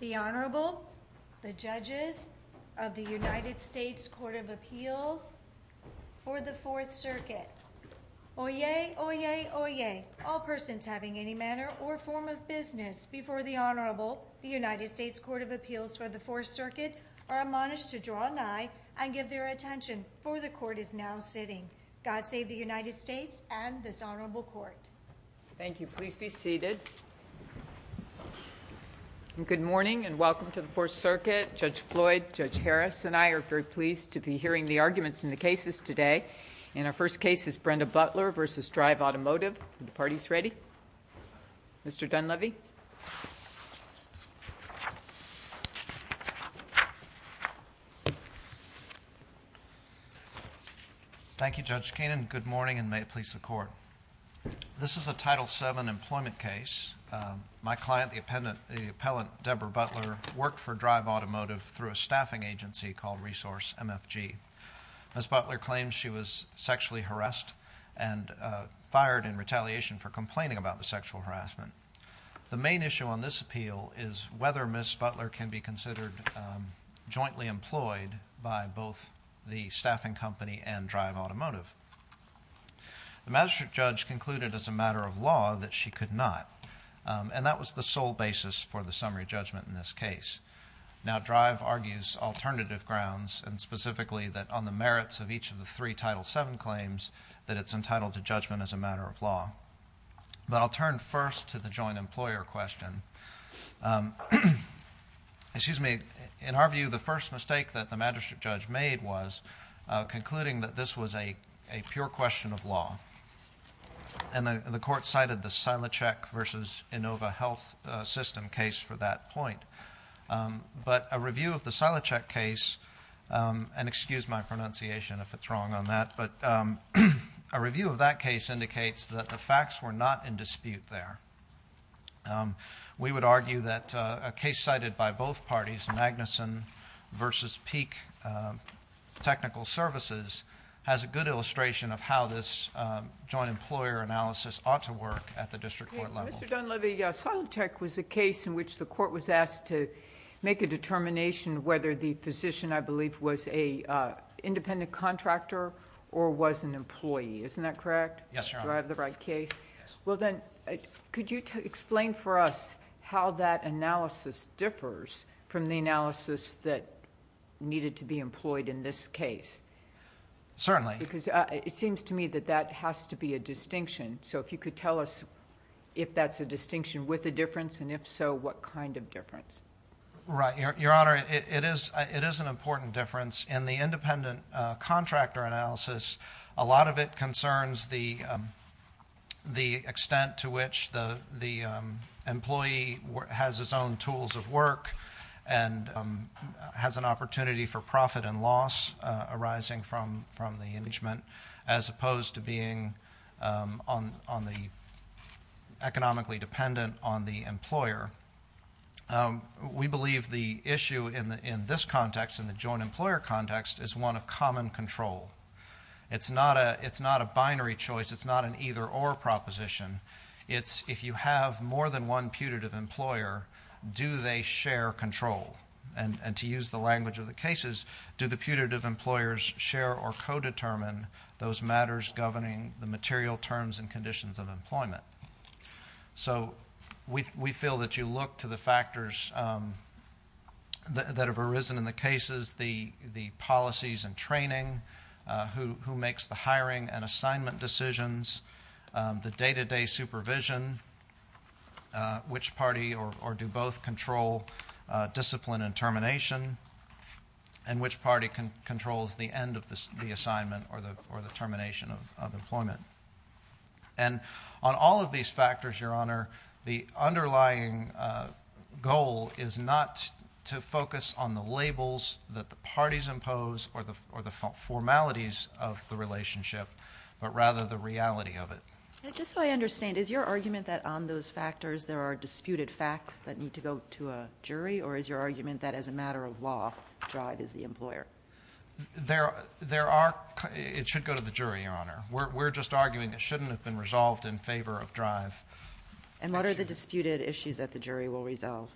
The Honorable, the Judges of the United States Court of Appeals for the Fourth Circuit. Oyez! Oyez! Oyez! All persons having any manner or form of business before the Honorable, the United States Court of Appeals for the Fourth Circuit, are admonished to draw nigh and give their attention, for the Court is now sitting. God save the United States and this Honorable Court. Thank you. Please be seated. Good morning and welcome to the Fourth Circuit. Judge Floyd, Judge Harris, and I are very pleased to be hearing the arguments in the cases today. In our first case is Brenda Butler v. Drive Automotive. Are the parties ready? Mr. Dunleavy. Thank you, Judge Keenan. Good morning and may it please the Court. This is a Title VII employment case. My client, the appellant Deborah Butler, worked for Drive Automotive through a staffing agency called Resource MFG. Ms. Butler claims she was sexually harassed and fired in retaliation for complaining about the sexual harassment. The main issue on this appeal is whether Ms. Butler can be considered jointly employed by both the staffing company and Drive Automotive. The magistrate judge concluded as a matter of law that she could not, and that was the sole basis for the summary judgment in this case. Now, Drive argues alternative grounds and specifically that on the merits of each of the three Title VII claims that it's entitled to judgment as a matter of law. But I'll turn first to the joint employer question. Excuse me. In our view, the first mistake that the magistrate judge made was concluding that this was a pure question of law. And the Court cited the Silocek versus Inova Health System case for that point. But a review of the Silocek case, and excuse my pronunciation if it's wrong on that, but a review of that case indicates that the facts were not in dispute there. We would argue that a case cited by both parties, Magnuson versus Peak Technical Services, has a good illustration of how this joint employer analysis ought to work at the district court level. Mr. Dunleavy, Silocek was a case in which the Court was asked to make a determination whether the physician, I believe, was an independent contractor or was an employee. Isn't that correct? Yes, Your Honor. Do I have the right case? Yes. Could you explain for us how that analysis differs from the analysis that needed to be employed in this case? Certainly. Because it seems to me that that has to be a distinction. So if you could tell us if that's a distinction with a difference, and if so, what kind of difference? Right. Your Honor, it is an important difference. In the independent contractor analysis, a lot of it concerns the extent to which the employee has his own tools of work and has an opportunity for profit and loss arising from the engagement, as opposed to being economically dependent on the employer. We believe the issue in this context, in the joint employer context, is one of common control. It's not a binary choice. It's not an either-or proposition. It's if you have more than one putative employer, do they share control? And to use the language of the cases, do the putative employers share or co-determine those matters governing the material terms and conditions of employment? So we feel that you look to the factors that have arisen in the cases, the policies and training, who makes the hiring and assignment decisions, the day-to-day supervision, which party or do both control discipline and termination, and which party controls the end of the And on all of these factors, Your Honor, the underlying goal is not to focus on the labels that the parties impose or the formalities of the relationship, but rather the reality of it. Just so I understand, is your argument that on those factors, there are disputed facts that need to go to a jury? Or is your argument that as a matter of law, drive is the employer? It should go to the jury, Your Honor. We're just arguing it shouldn't have been resolved in favor of drive. And what are the disputed issues that the jury will resolve?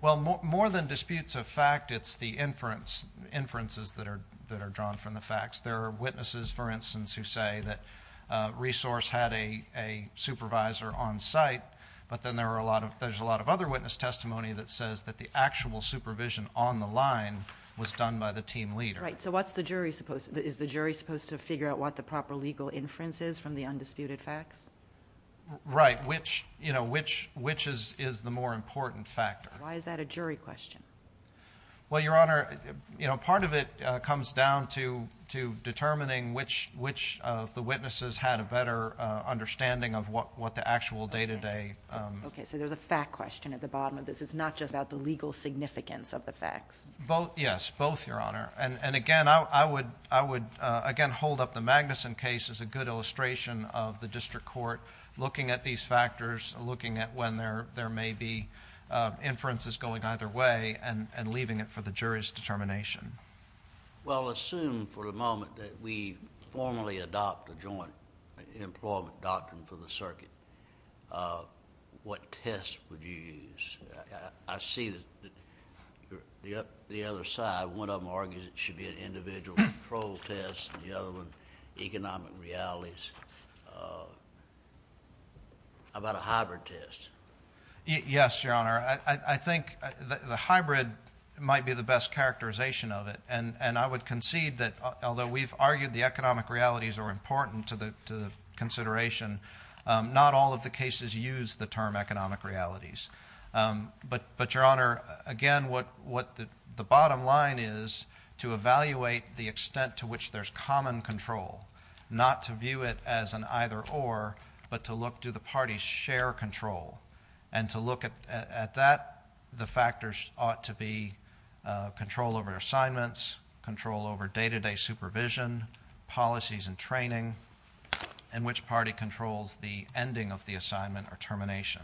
Well, more than disputes of fact, it's the inferences that are drawn from the facts. There are witnesses, for instance, who say that Resource had a supervisor on site, but then there's a lot of other witness testimony that says that the actual supervision on the line was done by the team leader. Right. So what's the jury supposed to do? Is the jury supposed to figure out what the proper legal inference is from the undisputed facts? Right. Which is the more important factor? Why is that a jury question? Well, Your Honor, part of it comes down to determining which of the witnesses had a better understanding of what the actual day-to-day... Okay. So there's a fact question at the bottom of this. It's not just about the legal significance of the facts. Both. Yes, both, Your Honor. And again, I would, again, hold up the Magnuson case as a good illustration of the district court looking at these factors, looking at when there may be inferences going either way and leaving it for the jury's determination. Well, assume for the moment that we formally adopt a joint employment doctrine for the circuit, what test would you use? I see the other side. One of them argues it should be an individual control test, and the other one economic realities. How about a hybrid test? Yes, Your Honor. I think the hybrid might be the best characterization of it, and I would concede that although we've argued the economic realities are important to the consideration, not all of the cases use the term economic realities. But, Your Honor, again, what the bottom line is to evaluate the extent to which there's common control, not to view it as an either-or, but to look, do the parties share control? And to look at that, the factors ought to be control over assignments, control over day-to-day supervision, policies and training, and which party controls the ending of the assignment or termination.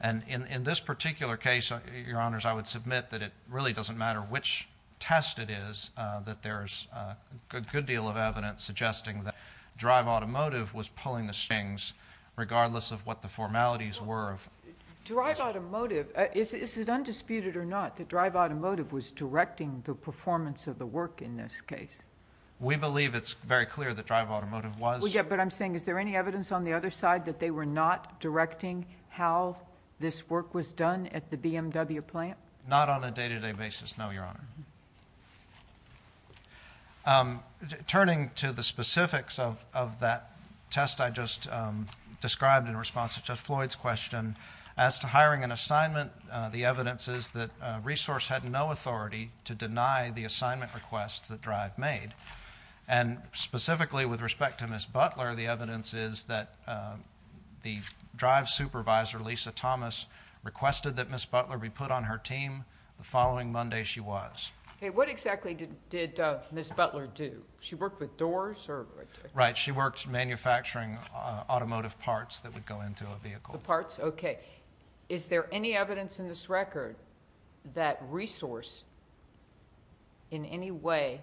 And in this particular case, Your Honors, I would submit that it really doesn't matter which test it is, that there's a good deal of evidence suggesting that drive automotive was pulling the strings, regardless of what the formalities were of... Drive automotive, is it undisputed or not that drive automotive was directing the performance of the work in this case? We believe it's very clear that drive automotive was... Yeah, but I'm saying, is there any evidence on the other side that they were not directing how this work was done at the BMW plant? Not on a day-to-day basis, no, Your Honor. Turning to the specifics of that test I just described in response to Judge Floyd's question, as to hiring an assignment, the evidence is that resource had no authority to deny the assignment requests that drive made. And specifically with respect to Ms. Butler, the evidence is that the drive supervisor, Lisa Thomas, requested that Ms. Butler be put on her team the following Monday she was. Okay, what exactly did Ms. Butler do? She worked with doors or... Right, she worked manufacturing automotive parts that would go into a vehicle. The parts, okay. Is there any evidence in this record that resource in any way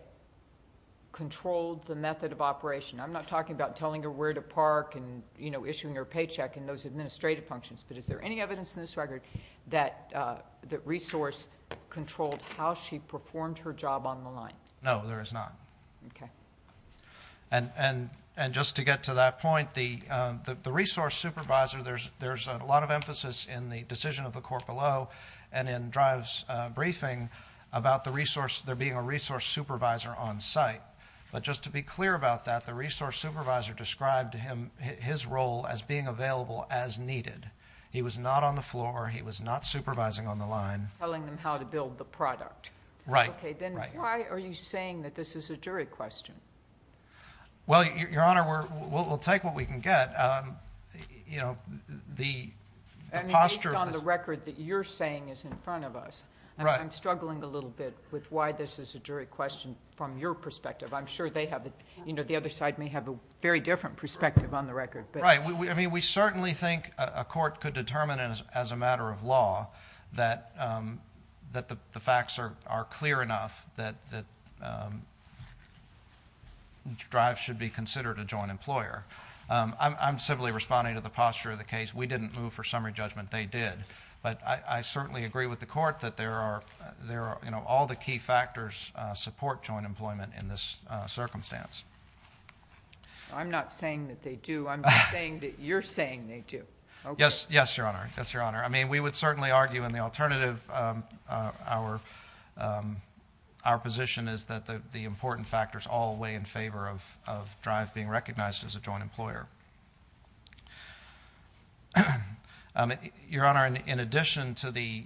controlled the method of operation? I'm not talking about telling her where to park and issuing her paycheck and those administrative functions, but is there any evidence in this record that resource controlled how she performed her job on the line? No, there is not. Okay. And just to get to that point, the resource supervisor, there's a lot of emphasis in the decision of the court below and in Drive's briefing about the resource, there being a resource supervisor on site. But just to be clear about that, the resource supervisor described his role as being available as needed. He was not on the floor. He was not supervising on the line. Telling them how to build the product. Right. Okay, then why are you saying that this is a jury question? Well, Your Honor, we'll take what we can get. You know, the posture... I mean, based on the record that you're saying is in front of us. Right. I'm struggling a little bit with why this is a jury question from your perspective. I'm sure they have, you know, the other side may have a very different perspective on the record, but... Right. I mean, we certainly think a court could determine as a matter of law that the facts are clear enough that Drive should be considered a joint employer. I'm simply responding to the posture of the case. We didn't move for summary judgment. They did. But I certainly agree with the court that there are, you know, all the key factors support joint employment in this circumstance. I'm not saying that they do. I'm saying that you're saying they do. Yes. Yes, Your Honor. Yes, Your Honor. We would certainly argue in the alternative our position is that the important factors all weigh in favor of Drive being recognized as a joint employer. Your Honor, in addition to the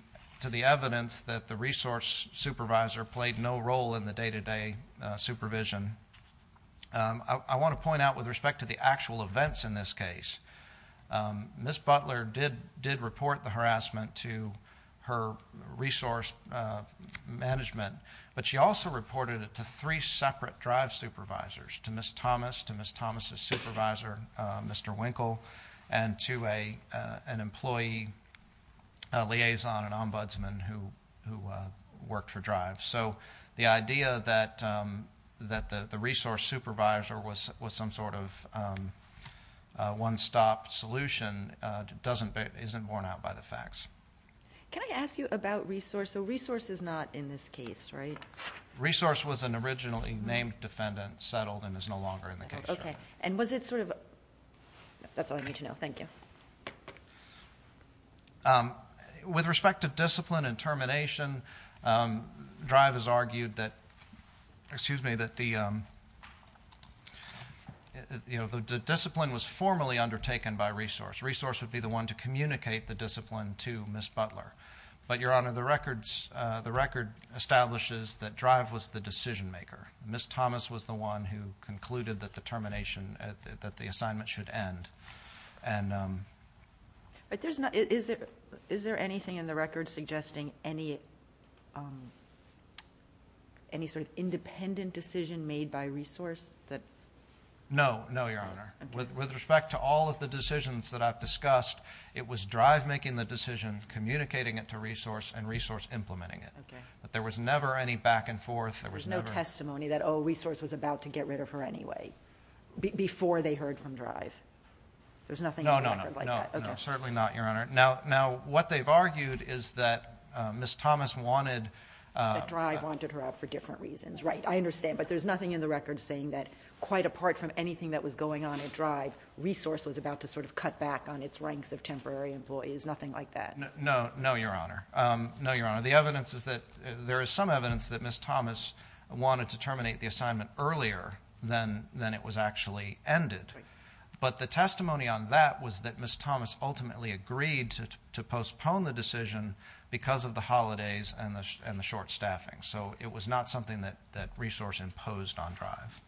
evidence that the resource supervisor played no role in the day-to-day supervision, I want to point out with respect to the actual events in this case. Ms. Butler did report the harassment to her resource management, but she also reported it to three separate Drive supervisors, to Ms. Thomas, to Ms. Thomas' supervisor, Mr. Winkle, and to an employee liaison, an ombudsman who worked for Drive. So the idea that the resource supervisor was some sort of one-stop solution isn't borne out by the facts. Can I ask you about resource? So resource is not in this case, right? Resource was an originally named defendant, settled, and is no longer in the case. Okay. And was it sort of... that's all I need to know. Thank you. Okay. With respect to discipline and termination, Drive has argued that, excuse me, that the discipline was formally undertaken by resource. Resource would be the one to communicate the discipline to Ms. Butler. But, Your Honor, the record establishes that Drive was the decision-maker. Ms. Thomas was the one who concluded that the termination, that the assignment should end. And... Is there anything in the record suggesting any sort of independent decision made by resource? No. No, Your Honor. With respect to all of the decisions that I've discussed, it was Drive making the decision, communicating it to resource, and resource implementing it. Okay. But there was never any back and forth. There was no testimony that, oh, resource was about to get rid of her anyway, before they heard from Drive. There's nothing in the record like that. No, no, no. Certainly not, Your Honor. Now, what they've argued is that Ms. Thomas wanted... That Drive wanted her out for different reasons. Right. I understand. But there's nothing in the record saying that, quite apart from anything that was going on at Drive, resource was about to sort of cut back on its ranks of temporary employees. Nothing like that. No. No, Your Honor. No, Your Honor. The evidence is that there is some evidence that Ms. Thomas wanted to terminate the assignment earlier than it was actually ended. But the testimony on that was that Ms. Thomas ultimately agreed to postpone the decision because of the holidays and the short staffing. So, it was not something that resource imposed on Drive.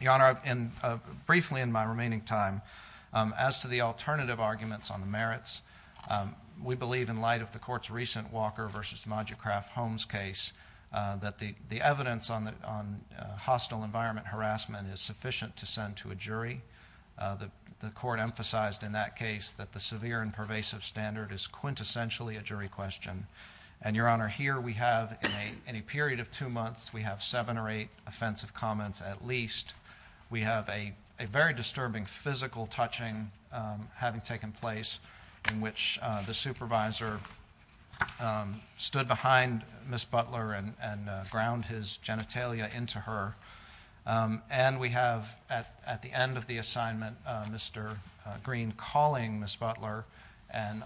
Your Honor, briefly in my remaining time, as to the alternative arguments on the merits, we believe, in light of the Court's recent Walker v. Modigrath-Holmes case, that the evidence on hostile environment harassment is sufficient to send to a jury. The Court emphasized in that case that the severe and pervasive standard is quintessentially a jury question. And, Your Honor, here we have, in a period of two months, we have seven or eight offensive comments at least. We have a very disturbing physical touching having taken place in which the supervisor um, stood behind Ms. Butler and ground his genitalia into her. And we have, at the end of the assignment, Mr. Green calling Ms. Butler and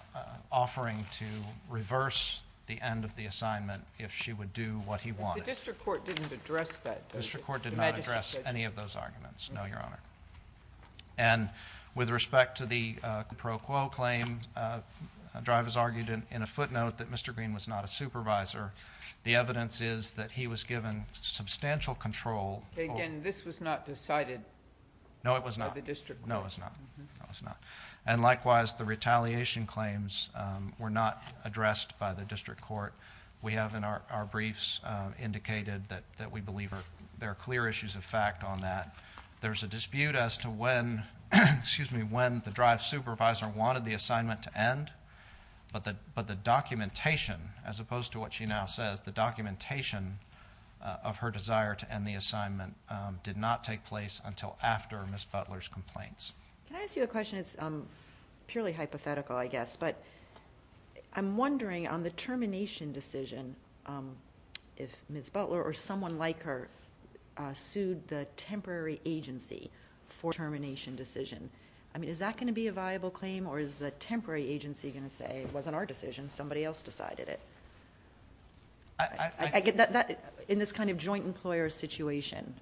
offering to reverse the end of the assignment if she would do what he wanted. The district court didn't address that. The district court did not address any of those arguments. No, Your Honor. And, with respect to the pro quo claim, Driver's argued in a footnote that Mr. Green was not a supervisor. The evidence is that he was given substantial control. Again, this was not decided by the district court. No, it was not. No, it was not. And likewise, the retaliation claims were not addressed by the district court. We have, in our briefs, indicated that we believe there are clear issues of fact on that. There's a dispute as to when, excuse me, when the Drive supervisor wanted the assignment to end, but the documentation, as opposed to what she now says, the documentation of her desire to end the assignment did not take place until after Ms. Butler's complaints. Can I ask you a question? It's purely hypothetical, I guess, but I'm wondering on the termination decision, if the temporary agency for termination decision, I mean, is that going to be a viable claim or is the temporary agency going to say, it wasn't our decision, somebody else decided it? In this kind of joint employer situation,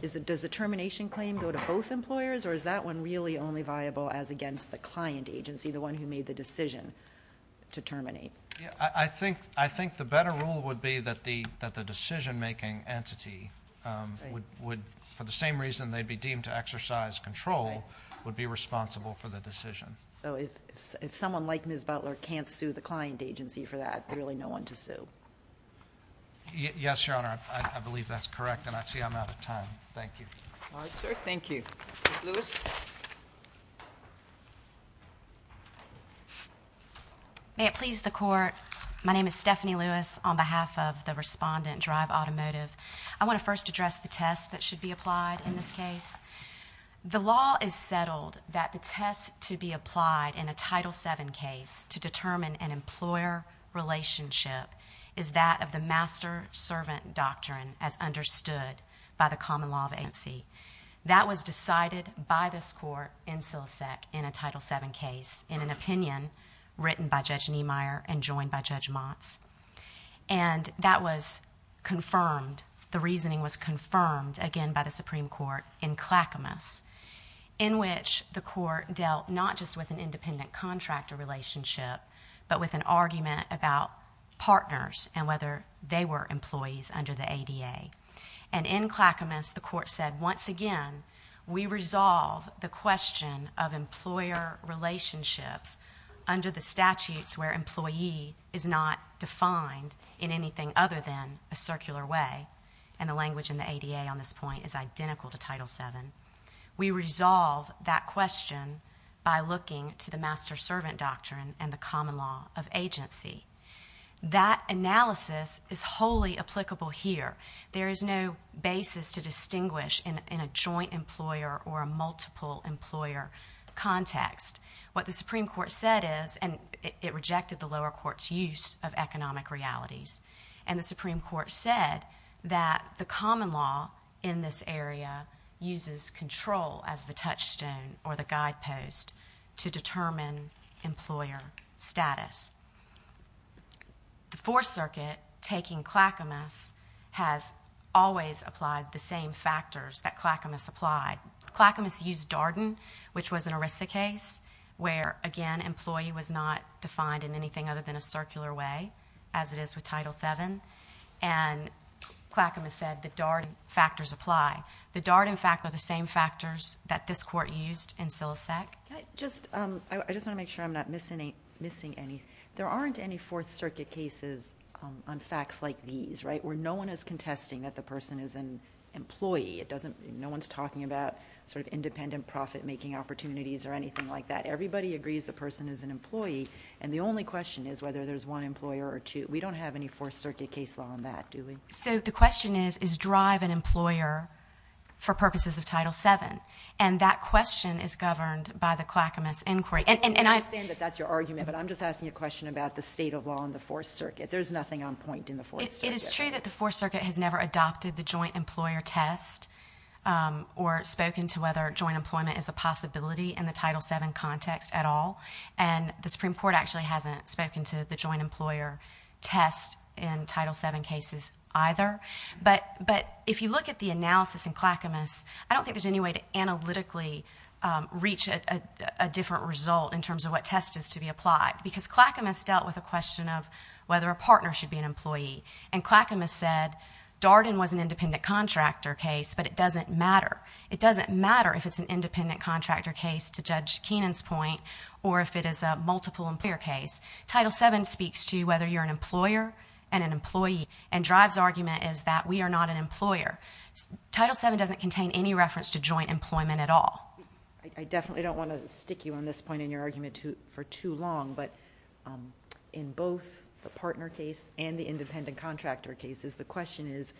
does the termination claim go to both employers or is that one really only viable as against the client agency, the one who made the decision to terminate? Yeah, I think the better rule would be that the decision-making entity would, for the same reason they'd be deemed to exercise control, would be responsible for the decision. So if someone like Ms. Butler can't sue the client agency for that, there's really no one to sue? Yes, Your Honor, I believe that's correct and I see I'm out of time. Thank you. All right, sir, thank you. Ms. Lewis? May it please the Court, my name is Stephanie Lewis on behalf of the respondent Drive Automotive. I want to first address the test that should be applied in this case. The law is settled that the test to be applied in a Title VII case to determine an employer relationship is that of the master-servant doctrine as understood by the common law of agency. That was decided by this Court in SILSEC in a Title VII case in an opinion written by Judge Niemeyer and joined by Judge Motz. And that was confirmed, the reasoning was confirmed again by the Supreme Court in Clackamas in which the Court dealt not just with an independent contractor relationship but with an argument about partners and whether they were employees under the ADA. And in Clackamas, the Court said, once again, we resolve the question of employer relationships under the statutes where employee is not defined in anything other than a circular way. And the language in the ADA on this point is identical to Title VII. We resolve that question by looking to the master-servant doctrine and the common law of agency. That analysis is wholly applicable here. There is no basis to distinguish in a joint employer or a multiple employer context. What the Supreme Court said is, and it rejected the lower court's use of economic realities, and the Supreme Court said that the common law in this area uses control as the touchstone or the guidepost to determine employer status. The Fourth Circuit, taking Clackamas, has always applied the same factors that Clackamas applied. Clackamas used Darden, which was an ERISA case where, again, employee was not defined in anything other than a circular way, as it is with Title VII. And Clackamas said the Darden factors apply. The Darden factors are the same factors that this Court used in Silisec. I just want to make sure I'm not missing anything. There aren't any Fourth Circuit cases on facts like these, right, where no one is contesting that the person is an employee. No one's talking about sort of independent profit-making opportunities or anything like that. Everybody agrees the person is an employee, and the only question is whether there's one employer or two. We don't have any Fourth Circuit case law on that, do we? So the question is, is drive an employer for purposes of Title VII? And that question is governed by the Clackamas inquiry. And I understand that that's your argument, but I'm just asking a question about the state of law in the Fourth Circuit. There's nothing on point in the Fourth Circuit. It is true that the Fourth Circuit has never adopted the joint employer test or spoken to whether joint employment is a possibility in the Title VII context at all. And the Supreme Court actually hasn't spoken to the joint employer test in Title VII cases either. But if you look at the analysis in Clackamas, I don't think there's any way to analytically reach a different result in terms of what test is to be applied, because Clackamas dealt with a question of whether a partner should be an employee. And Clackamas said Darden was an independent contractor case, but it doesn't matter. It doesn't matter if it's an independent contractor case, to Judge Keenan's point, or if it is a multiple employer case. Title VII speaks to whether you're an employer and an employee. And Drive's argument is that we are not an employer. Title VII doesn't contain any reference to joint employment at all. I definitely don't want to stick you on this point in your argument for too long. But in both the partner case and the independent contractor cases, the question is,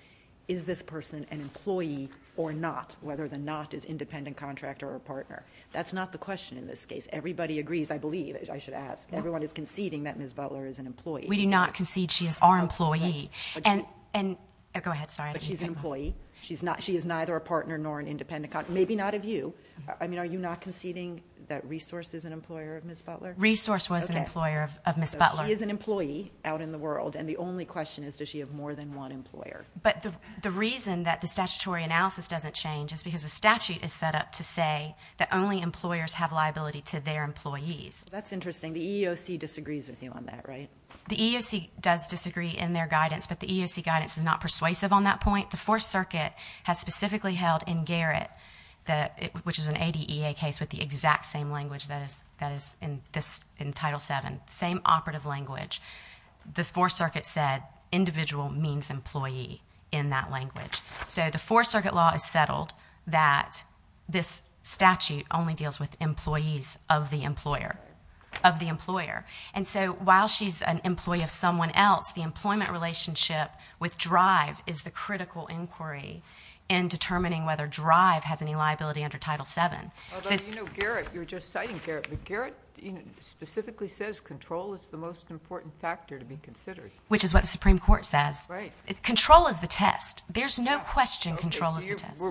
is this person an employee or not, whether or not is independent contractor or partner? That's not the question in this case. Everybody agrees, I believe, I should ask. Everyone is conceding that Ms. Butler is an employee. We do not concede she is our employee. And go ahead, sorry. She's an employee. She's not. She is neither a partner nor an independent contractor. Maybe not of you. I mean, are you not conceding that Resource is an employer of Ms. Butler? Resource was an employer of Ms. Butler. She is an employee out in the world. And the only question is, does she have more than one employer? But the reason that the statutory analysis doesn't change is because the statute is set up to say that only employers have liability to their employees. That's interesting. The EEOC disagrees with you on that, right? The EEOC does disagree in their guidance, but the EEOC guidance is not persuasive on that point. The Fourth Circuit has specifically held in Garrett, which is an ADEA case with the exact same language that is in Title VII, same operative language. The Fourth Circuit said individual means employee in that language. So the Fourth Circuit law is settled that this statute only deals with employees of the employer, of the employer. And so while she's an employee of someone else, the employment relationship with DRIVE is the critical inquiry in determining whether DRIVE has any liability under Title VII. Although, you know, Garrett, you were just citing Garrett, but Garrett specifically says control is the most important factor to be considered. Which is what the Supreme Court says. Right. Control is the test. There's no question control is the test.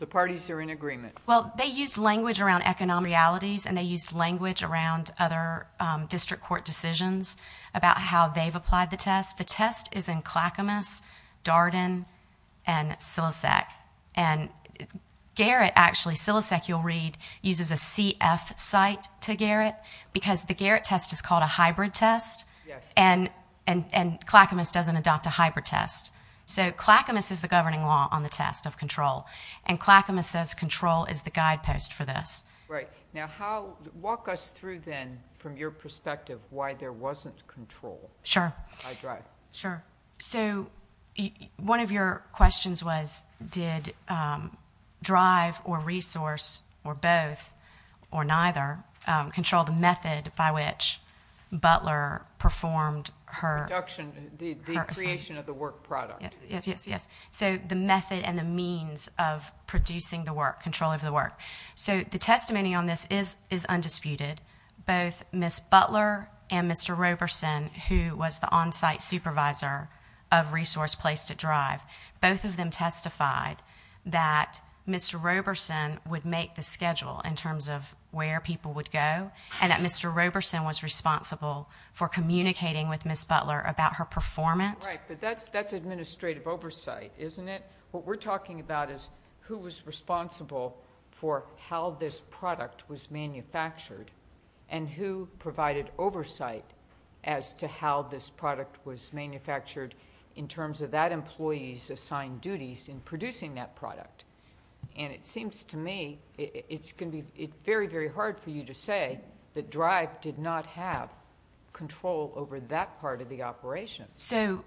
The parties are in agreement. Well, they use language around economic realities, and they use language around other district court decisions about how they've applied the test. The test is in Clackamas, Darden, and Sillisac. And Garrett, actually, Sillisac, you'll read, uses a CF site to Garrett, because the Garrett test is called a hybrid test, and Clackamas doesn't adopt a hybrid test. So Clackamas is the governing law on the test of control. And Clackamas says control is the guidepost for this. Right. Now, walk us through, then, from your perspective, why there wasn't control by DRIVE. Sure. So one of your questions was, did DRIVE, or resource, or both, or neither, control the method by which Butler performed her assignments? The creation of the work product. Yes, yes, yes. So the method and the means of producing the work, control of the work. So the testimony on this is undisputed. Both Ms. Butler and Mr. Roberson, who was the on-site supervisor of resource placed at DRIVE, both of them testified that Mr. Roberson would make the schedule in terms of where people would go, and that Mr. Roberson was responsible for communicating with Ms. Butler about her performance. Right. That's administrative oversight, isn't it? What we're talking about is who was responsible for how this product was manufactured, and who provided oversight as to how this product was manufactured in terms of that employee's assigned duties in producing that product. And it seems to me, it's going to be very, very hard for you to say that DRIVE did not have control over that part of the operation. So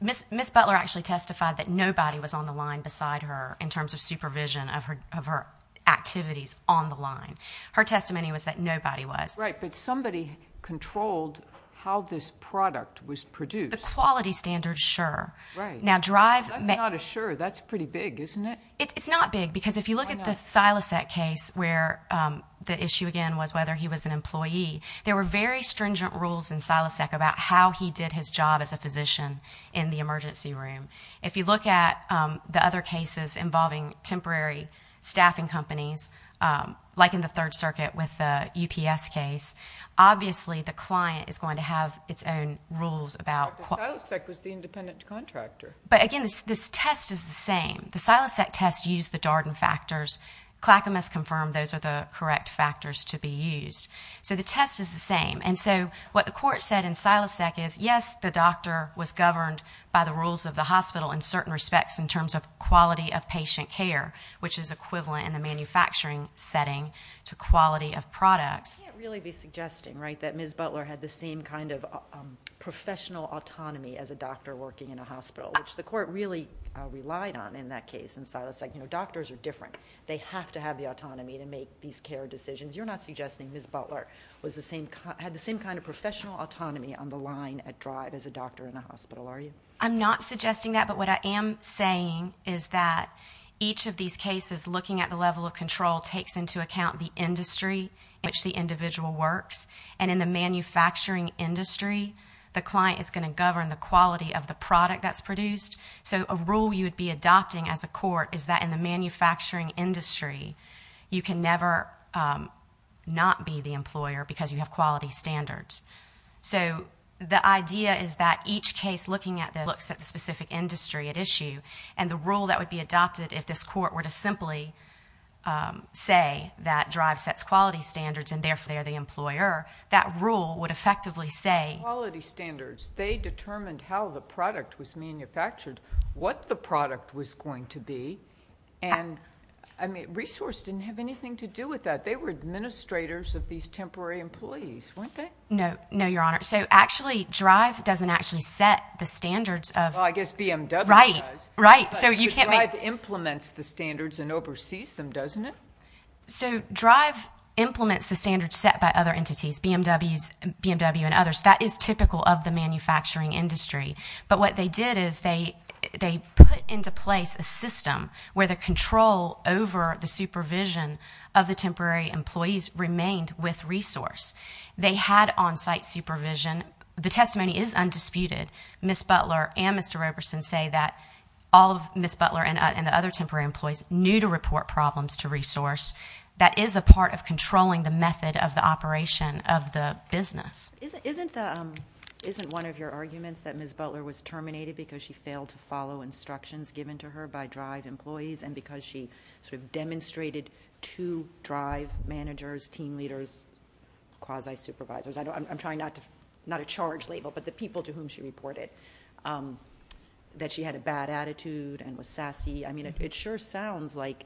Ms. Butler actually testified that nobody was on the line beside her in terms of supervision of her activities on the line. Her testimony was that nobody was. Right. But somebody controlled how this product was produced. The quality standard, sure. Right. Now DRIVE... That's not a sure. That's pretty big, isn't it? It's not big, because if you look at the Silasek case where the issue again was whether he was an employee, there were very stringent rules in Silasek about how he did his job as a physician in the emergency room. If you look at the other cases involving temporary staffing companies, like in the Third Circuit with the UPS case, obviously the client is going to have its own rules about... But the Silasek was the independent contractor. But again, this test is the same. The Silasek test used the Darden factors. Clackamas confirmed those are the correct factors to be used. So the test is the same. And so what the court said in Silasek is, yes, the doctor was governed by the rules of the hospital in certain respects in terms of quality of patient care, which is equivalent in the manufacturing setting to quality of products. You can't really be suggesting, right, that Ms. Butler had the same kind of professional autonomy as a doctor working in a hospital, which the court really relied on in that case in Silasek. Doctors are different. They have to have the autonomy to make these care decisions. You're not suggesting Ms. Butler had the same kind of professional autonomy on the line at drive as a doctor in a hospital, are you? I'm not suggesting that. But what I am saying is that each of these cases, looking at the level of control, takes into account the industry in which the individual works. And in the manufacturing industry, the client is going to govern the quality of the product that's produced. So a rule you would be adopting as a court is that in the manufacturing industry, you can never not be the employer because you have quality standards. So the idea is that each case looking at that looks at the specific industry at issue, and the rule that would be adopted if this court were to simply say that drive sets quality standards, and therefore they are the employer, that rule would effectively say— What the product was going to be. And resource didn't have anything to do with that. They were administrators of these temporary employees, weren't they? No, no, Your Honor. So actually, drive doesn't actually set the standards of— Well, I guess BMW does. Right, right. So you can't make— But drive implements the standards and oversees them, doesn't it? So drive implements the standards set by other entities, BMW and others. That is typical of the manufacturing industry. But what they did is they put into place a system where the control over the supervision of the temporary employees remained with resource. They had on-site supervision. The testimony is undisputed. Ms. Butler and Mr. Roberson say that all of Ms. Butler and the other temporary employees knew to report problems to resource. That is a part of controlling the method of the operation of the business. Isn't one of your arguments that Ms. Butler was terminated because she failed to follow instructions given to her by drive employees and because she sort of demonstrated to drive managers, team leaders, quasi-supervisors—I'm trying not to—not a charge label, but the people to whom she reported—that she had a bad attitude and was sassy? I mean, it sure sounds like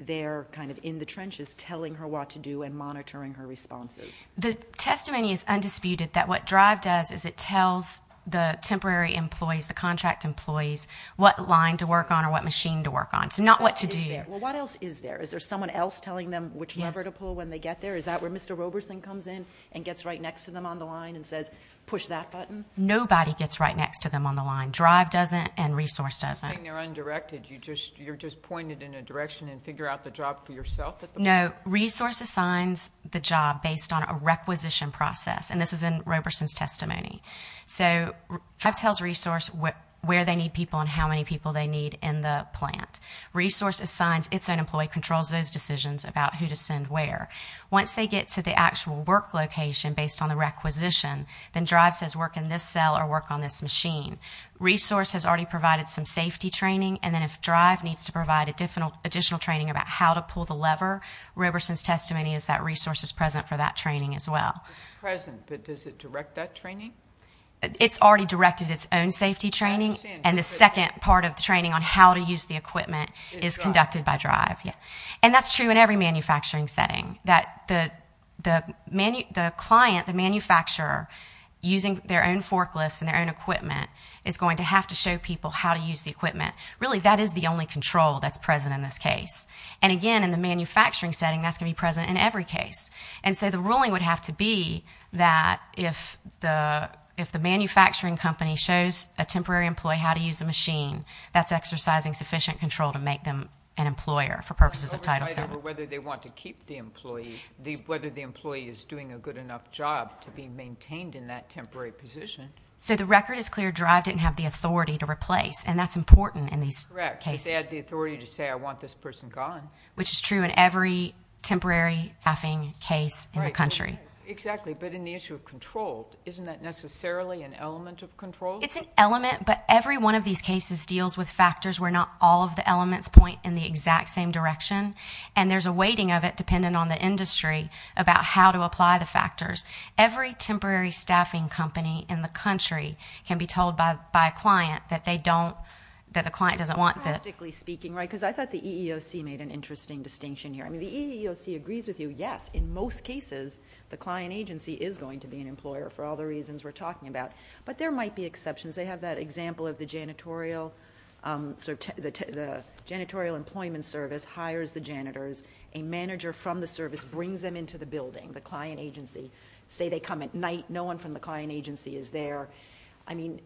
they're kind of in the trenches telling her what to do and monitoring her responses. The testimony is undisputed that what drive does is it tells the temporary employees, the contract employees, what line to work on or what machine to work on, so not what to do. Well, what else is there? Is there someone else telling them which lever to pull when they get there? Is that where Mr. Roberson comes in and gets right next to them on the line and says, push that button? Nobody gets right next to them on the line. Drive doesn't and resource doesn't. I think they're undirected. You're just pointed in a direction and figure out the job for yourself at the point. Resource assigns the job based on a requisition process, and this is in Roberson's testimony. Drive tells resource where they need people and how many people they need in the plant. Resource assigns its own employee, controls those decisions about who to send where. Once they get to the actual work location based on the requisition, then drive says work in this cell or work on this machine. Resource has already provided some safety training, and then if drive needs to provide additional training about how to pull the lever, Roberson's testimony is that resource is present for that training as well. It's present, but does it direct that training? It's already directed its own safety training, and the second part of the training on how to use the equipment is conducted by drive. And that's true in every manufacturing setting, that the client, the manufacturer using their own forklifts and their own equipment is going to have to show people how to use the equipment. Really, that is the only control that's present in this case. And again, in the manufacturing setting, that's going to be present in every case. And so the ruling would have to be that if the manufacturing company shows a temporary employee how to use a machine, that's exercising sufficient control to make them an employer for purposes of Title VII. Whether they want to keep the employee, whether the employee is doing a good enough job to be maintained in that temporary position. So the record is clear, drive didn't have the authority to replace, and that's important in these cases. Correct, but they had the authority to say, I want this person gone. Which is true in every temporary staffing case in the country. Exactly, but in the issue of control, isn't that necessarily an element of control? It's an element, but every one of these cases deals with factors where not all of the elements point in the exact same direction, and there's a weighting of it dependent on the industry about how to apply the factors. Every temporary staffing company in the country can be told by a client that they don't, that the client doesn't want that. Practically speaking, right, because I thought the EEOC made an interesting distinction here. I mean, the EEOC agrees with you, yes, in most cases, the client agency is going to be an employer for all the reasons we're talking about. But there might be exceptions. They have that example of the janitorial employment service hires the janitors, a manager from the service brings them into the building, the client agency. Say they come at night, no one from the client agency is there. I mean,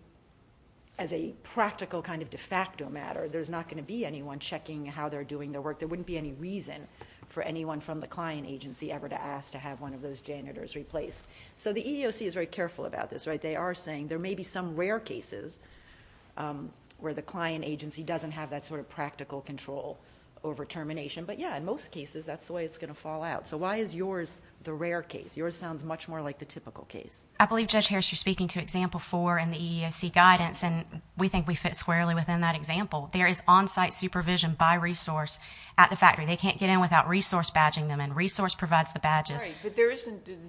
as a practical kind of de facto matter, there's not going to be anyone checking how they're doing their work. There wouldn't be any reason for anyone from the client agency ever to ask to have one of those janitors replaced. So the EEOC is very careful about this, right? They are saying there may be some rare cases where the client agency doesn't have that sort of practical control over termination. But yeah, in most cases, that's the way it's going to fall out. So why is yours the rare case? Yours sounds much more like the typical case. I believe, Judge Harris, you're speaking to example four in the EEOC guidance, and we think we fit squarely within that example. There is on-site supervision by resource at the factory. They can't get in without resource badging them, and resource provides the badges. Right,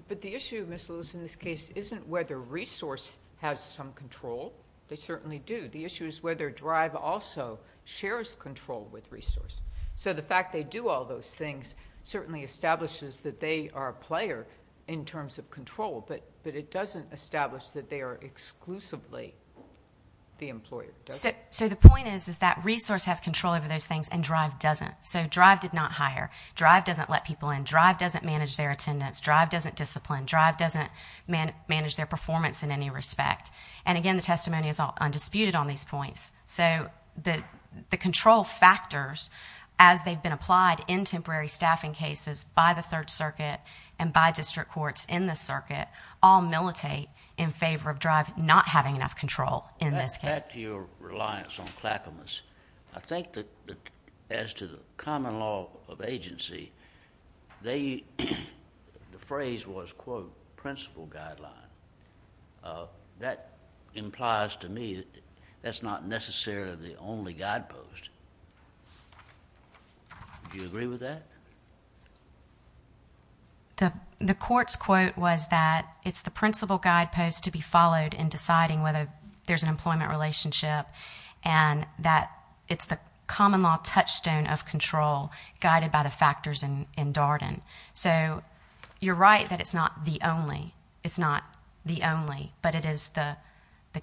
but the issue, Ms. Lewis, in this case isn't whether resource has some control. They certainly do. The issue is whether drive also shares control with resource. So the fact they do all those things certainly establishes that they are a player in terms of control, but it doesn't establish that they are exclusively the employer, does it? So the point is that resource has control over those things and drive doesn't. So drive did not hire. Drive doesn't let people in. Drive doesn't manage their attendance. Drive doesn't discipline. Drive doesn't manage their performance in any respect. And again, the testimony is undisputed on these points. So the control factors, as they've been applied in temporary staffing cases by the Third Circuit and by district courts in this circuit, all militate in favor of drive not having enough control in this case. Back to your reliance on clackamas, I think that as to the common law of agency, the phrase was, quote, principle guideline. Uh, that implies to me that that's not necessarily the only guidepost. Do you agree with that? The court's quote was that it's the principle guidepost to be followed in deciding whether there's an employment relationship and that it's the common law touchstone of control guided by the factors in Darden. So you're right that it's not the only. It's not the only. But it is the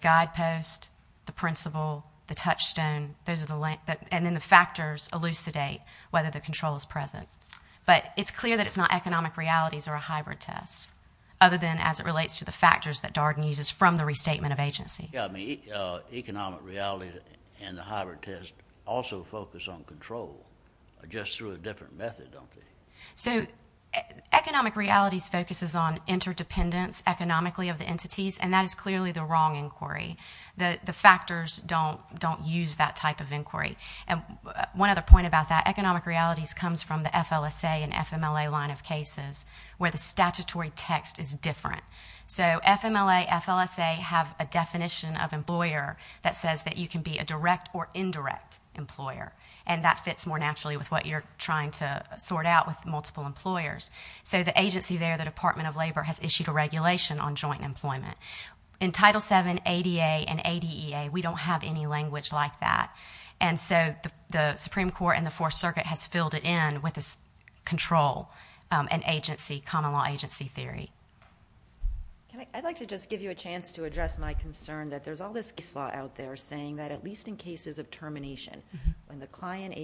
guidepost, the principle, the touchstone. Those are the length. And then the factors elucidate whether the control is present. But it's clear that it's not economic realities or a hybrid test, other than as it relates to the factors that Darden uses from the restatement of agency. Yeah, I mean, economic reality and the hybrid test also focus on control, just through a different method, don't they? So economic realities focuses on interdependence economically of the entities, and that is clearly the wrong inquiry. The factors don't use that type of inquiry. And one other point about that, economic realities comes from the FLSA and FMLA line of cases where the statutory text is different. So FMLA, FLSA have a definition of employer that says that you can be a direct or indirect employer. And that fits more naturally with what you're trying to sort out with multiple employers. So the agency there, the Department of Labor, has issued a regulation on joint employment. In Title VII, ADA, and ADEA, we don't have any language like that. And so the Supreme Court and the Fourth Circuit has filled it in with this control and agency, common law agency theory. I'd like to just give you a chance to address my concern that there's all this case law out there saying that at least in cases of termination, when the client,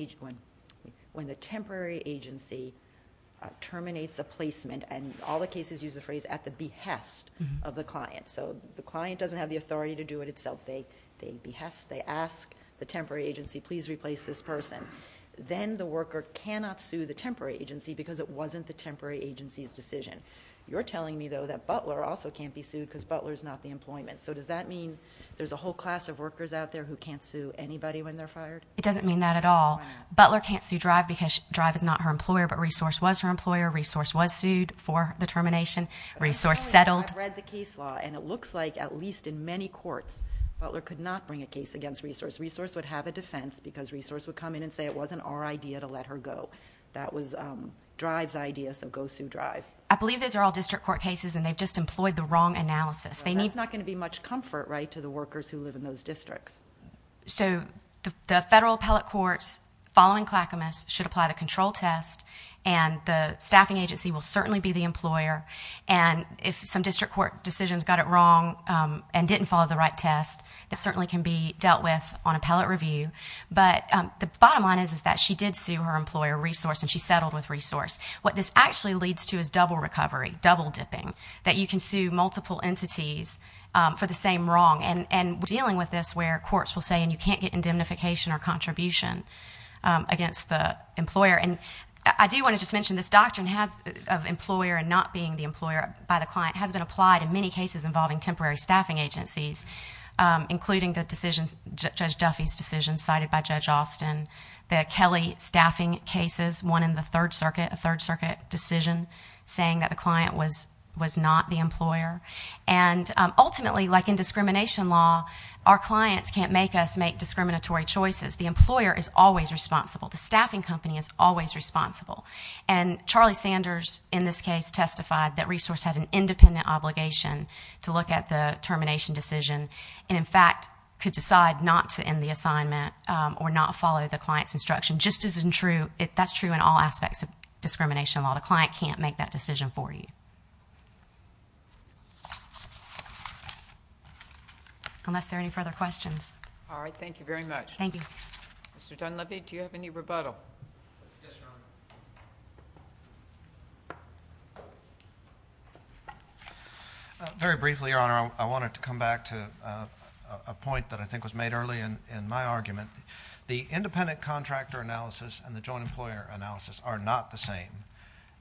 when the temporary agency terminates a placement, and all the cases use the phrase at the behest of the client. So the client doesn't have the authority to do it itself. They behest, they ask the temporary agency, please replace this person. Then the worker cannot sue the temporary agency because it wasn't the temporary agency's decision. You're telling me, though, that Butler also can't be sued because Butler's not the employment. So does that mean there's a whole class of workers out there who can't sue anybody when they're fired? It doesn't mean that at all. Butler can't sue DRIVE because DRIVE is not her employer, but Resource was her employer. Resource was sued for the termination. Resource settled. I've read the case law, and it looks like at least in many courts, Butler could not bring a case against Resource. Resource would have a defense because Resource would come in and say it wasn't our idea to let her go. That was DRIVE's idea, so go sue DRIVE. I believe those are all district court cases, and they've just employed the wrong analysis. That's not going to be much comfort to the workers who live in those districts. So the federal appellate courts, following Clackamas, should apply the control test, and the staffing agency will certainly be the employer, and if some district court decisions got it wrong and didn't follow the right test, it certainly can be dealt with on appellate review. But the bottom line is that she did sue her employer, Resource, and she settled with Resource. What this actually leads to is double recovery, double dipping, that you can sue multiple entities for the same wrong. And we're dealing with this where courts will say, and you can't get indemnification or contribution against the employer. And I do want to just mention this doctrine of employer and not being the employer by the client has been applied in many cases involving temporary staffing agencies, including the decisions, Judge Duffy's decision cited by Judge Austin, the Kelly staffing cases, one in the Third Circuit, a Third Circuit decision saying that the client was not the employer. And ultimately, like in discrimination law, our clients can't make us make discriminatory choices. The employer is always responsible. The staffing company is always responsible. And Charlie Sanders, in this case, testified that Resource had an independent obligation to look at the termination decision and, in fact, could decide not to end the assignment or not follow the client's instruction. Just as true, that's true in all aspects of discrimination law. The client can't make that decision for you. Unless there are any further questions. All right. Thank you very much. Thank you. Mr. Dunleavy, do you have any rebuttal? Yes, Your Honor. Very briefly, Your Honor, I wanted to come back to a point that I think was made early in my argument. The independent contractor analysis and the joint employer analysis are not the same.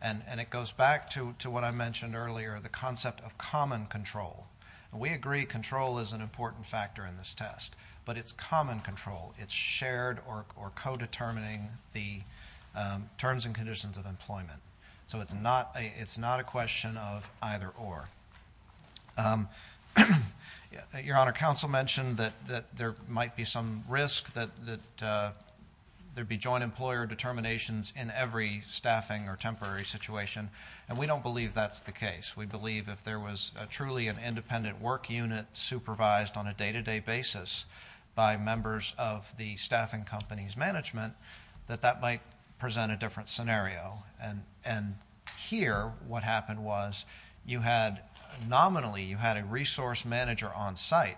And it goes back to what I mentioned earlier, the concept of common control. We agree control is an important factor in this test. But it's common control. It's shared or co-determining the terms and conditions of employment. So it's not a question of either or. Your Honor, counsel mentioned that there might be some risk that there'd be joint employer determinations in every staffing or temporary situation. And we don't believe that's the case. We believe if there was truly an independent work unit supervised on a day-to-day basis by members of the staffing company's management, that that might present a different scenario. And here, what happened was, you had nominally, you had a resource manager on site.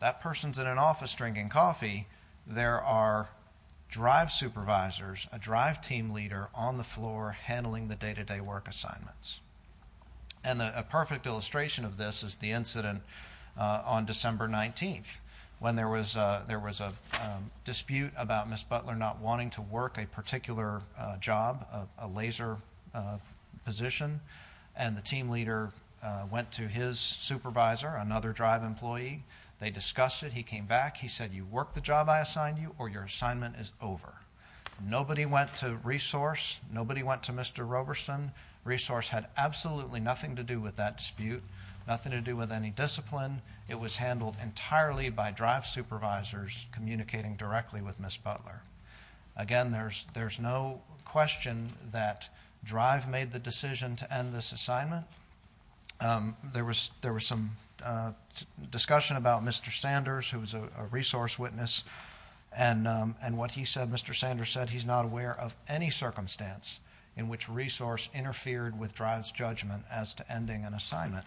That person's in an office drinking coffee. There are drive supervisors, a drive team leader on the floor handling the day-to-day work assignments. And a perfect illustration of this is the incident on December 19th, when there was a dispute about Ms. Butler not wanting to work a particular job, a laser position. And the team leader went to his supervisor, another drive employee. They discussed it. He came back. He said, you work the job I assigned you, or your assignment is over. Nobody went to resource. Nobody went to Mr. Roberson. Resource had absolutely nothing to do with that dispute, nothing to do with any discipline. It was handled entirely by drive supervisors communicating directly with Ms. Butler. Again, there's no question that drive made the decision to end this assignment. There was some discussion about Mr. Sanders, who was a resource witness. And what he said, Mr. Sanders said, he's not aware of any circumstance in which resource interfered with drive's judgment as to ending an assignment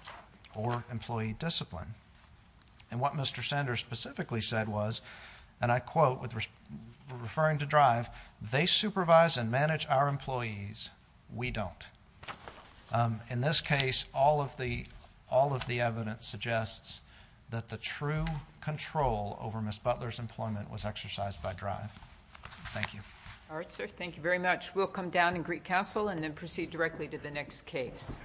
or employee discipline. And what Mr. Sanders specifically said was, and I quote, referring to drive, they supervise and manage our employees, we don't. Um, in this case, all of the, all of the evidence suggests that the true control over Ms. Butler's employment was exercised by drive. Thank you. All right, sir. Thank you very much. We'll come down and greet counsel and then proceed directly to the next case.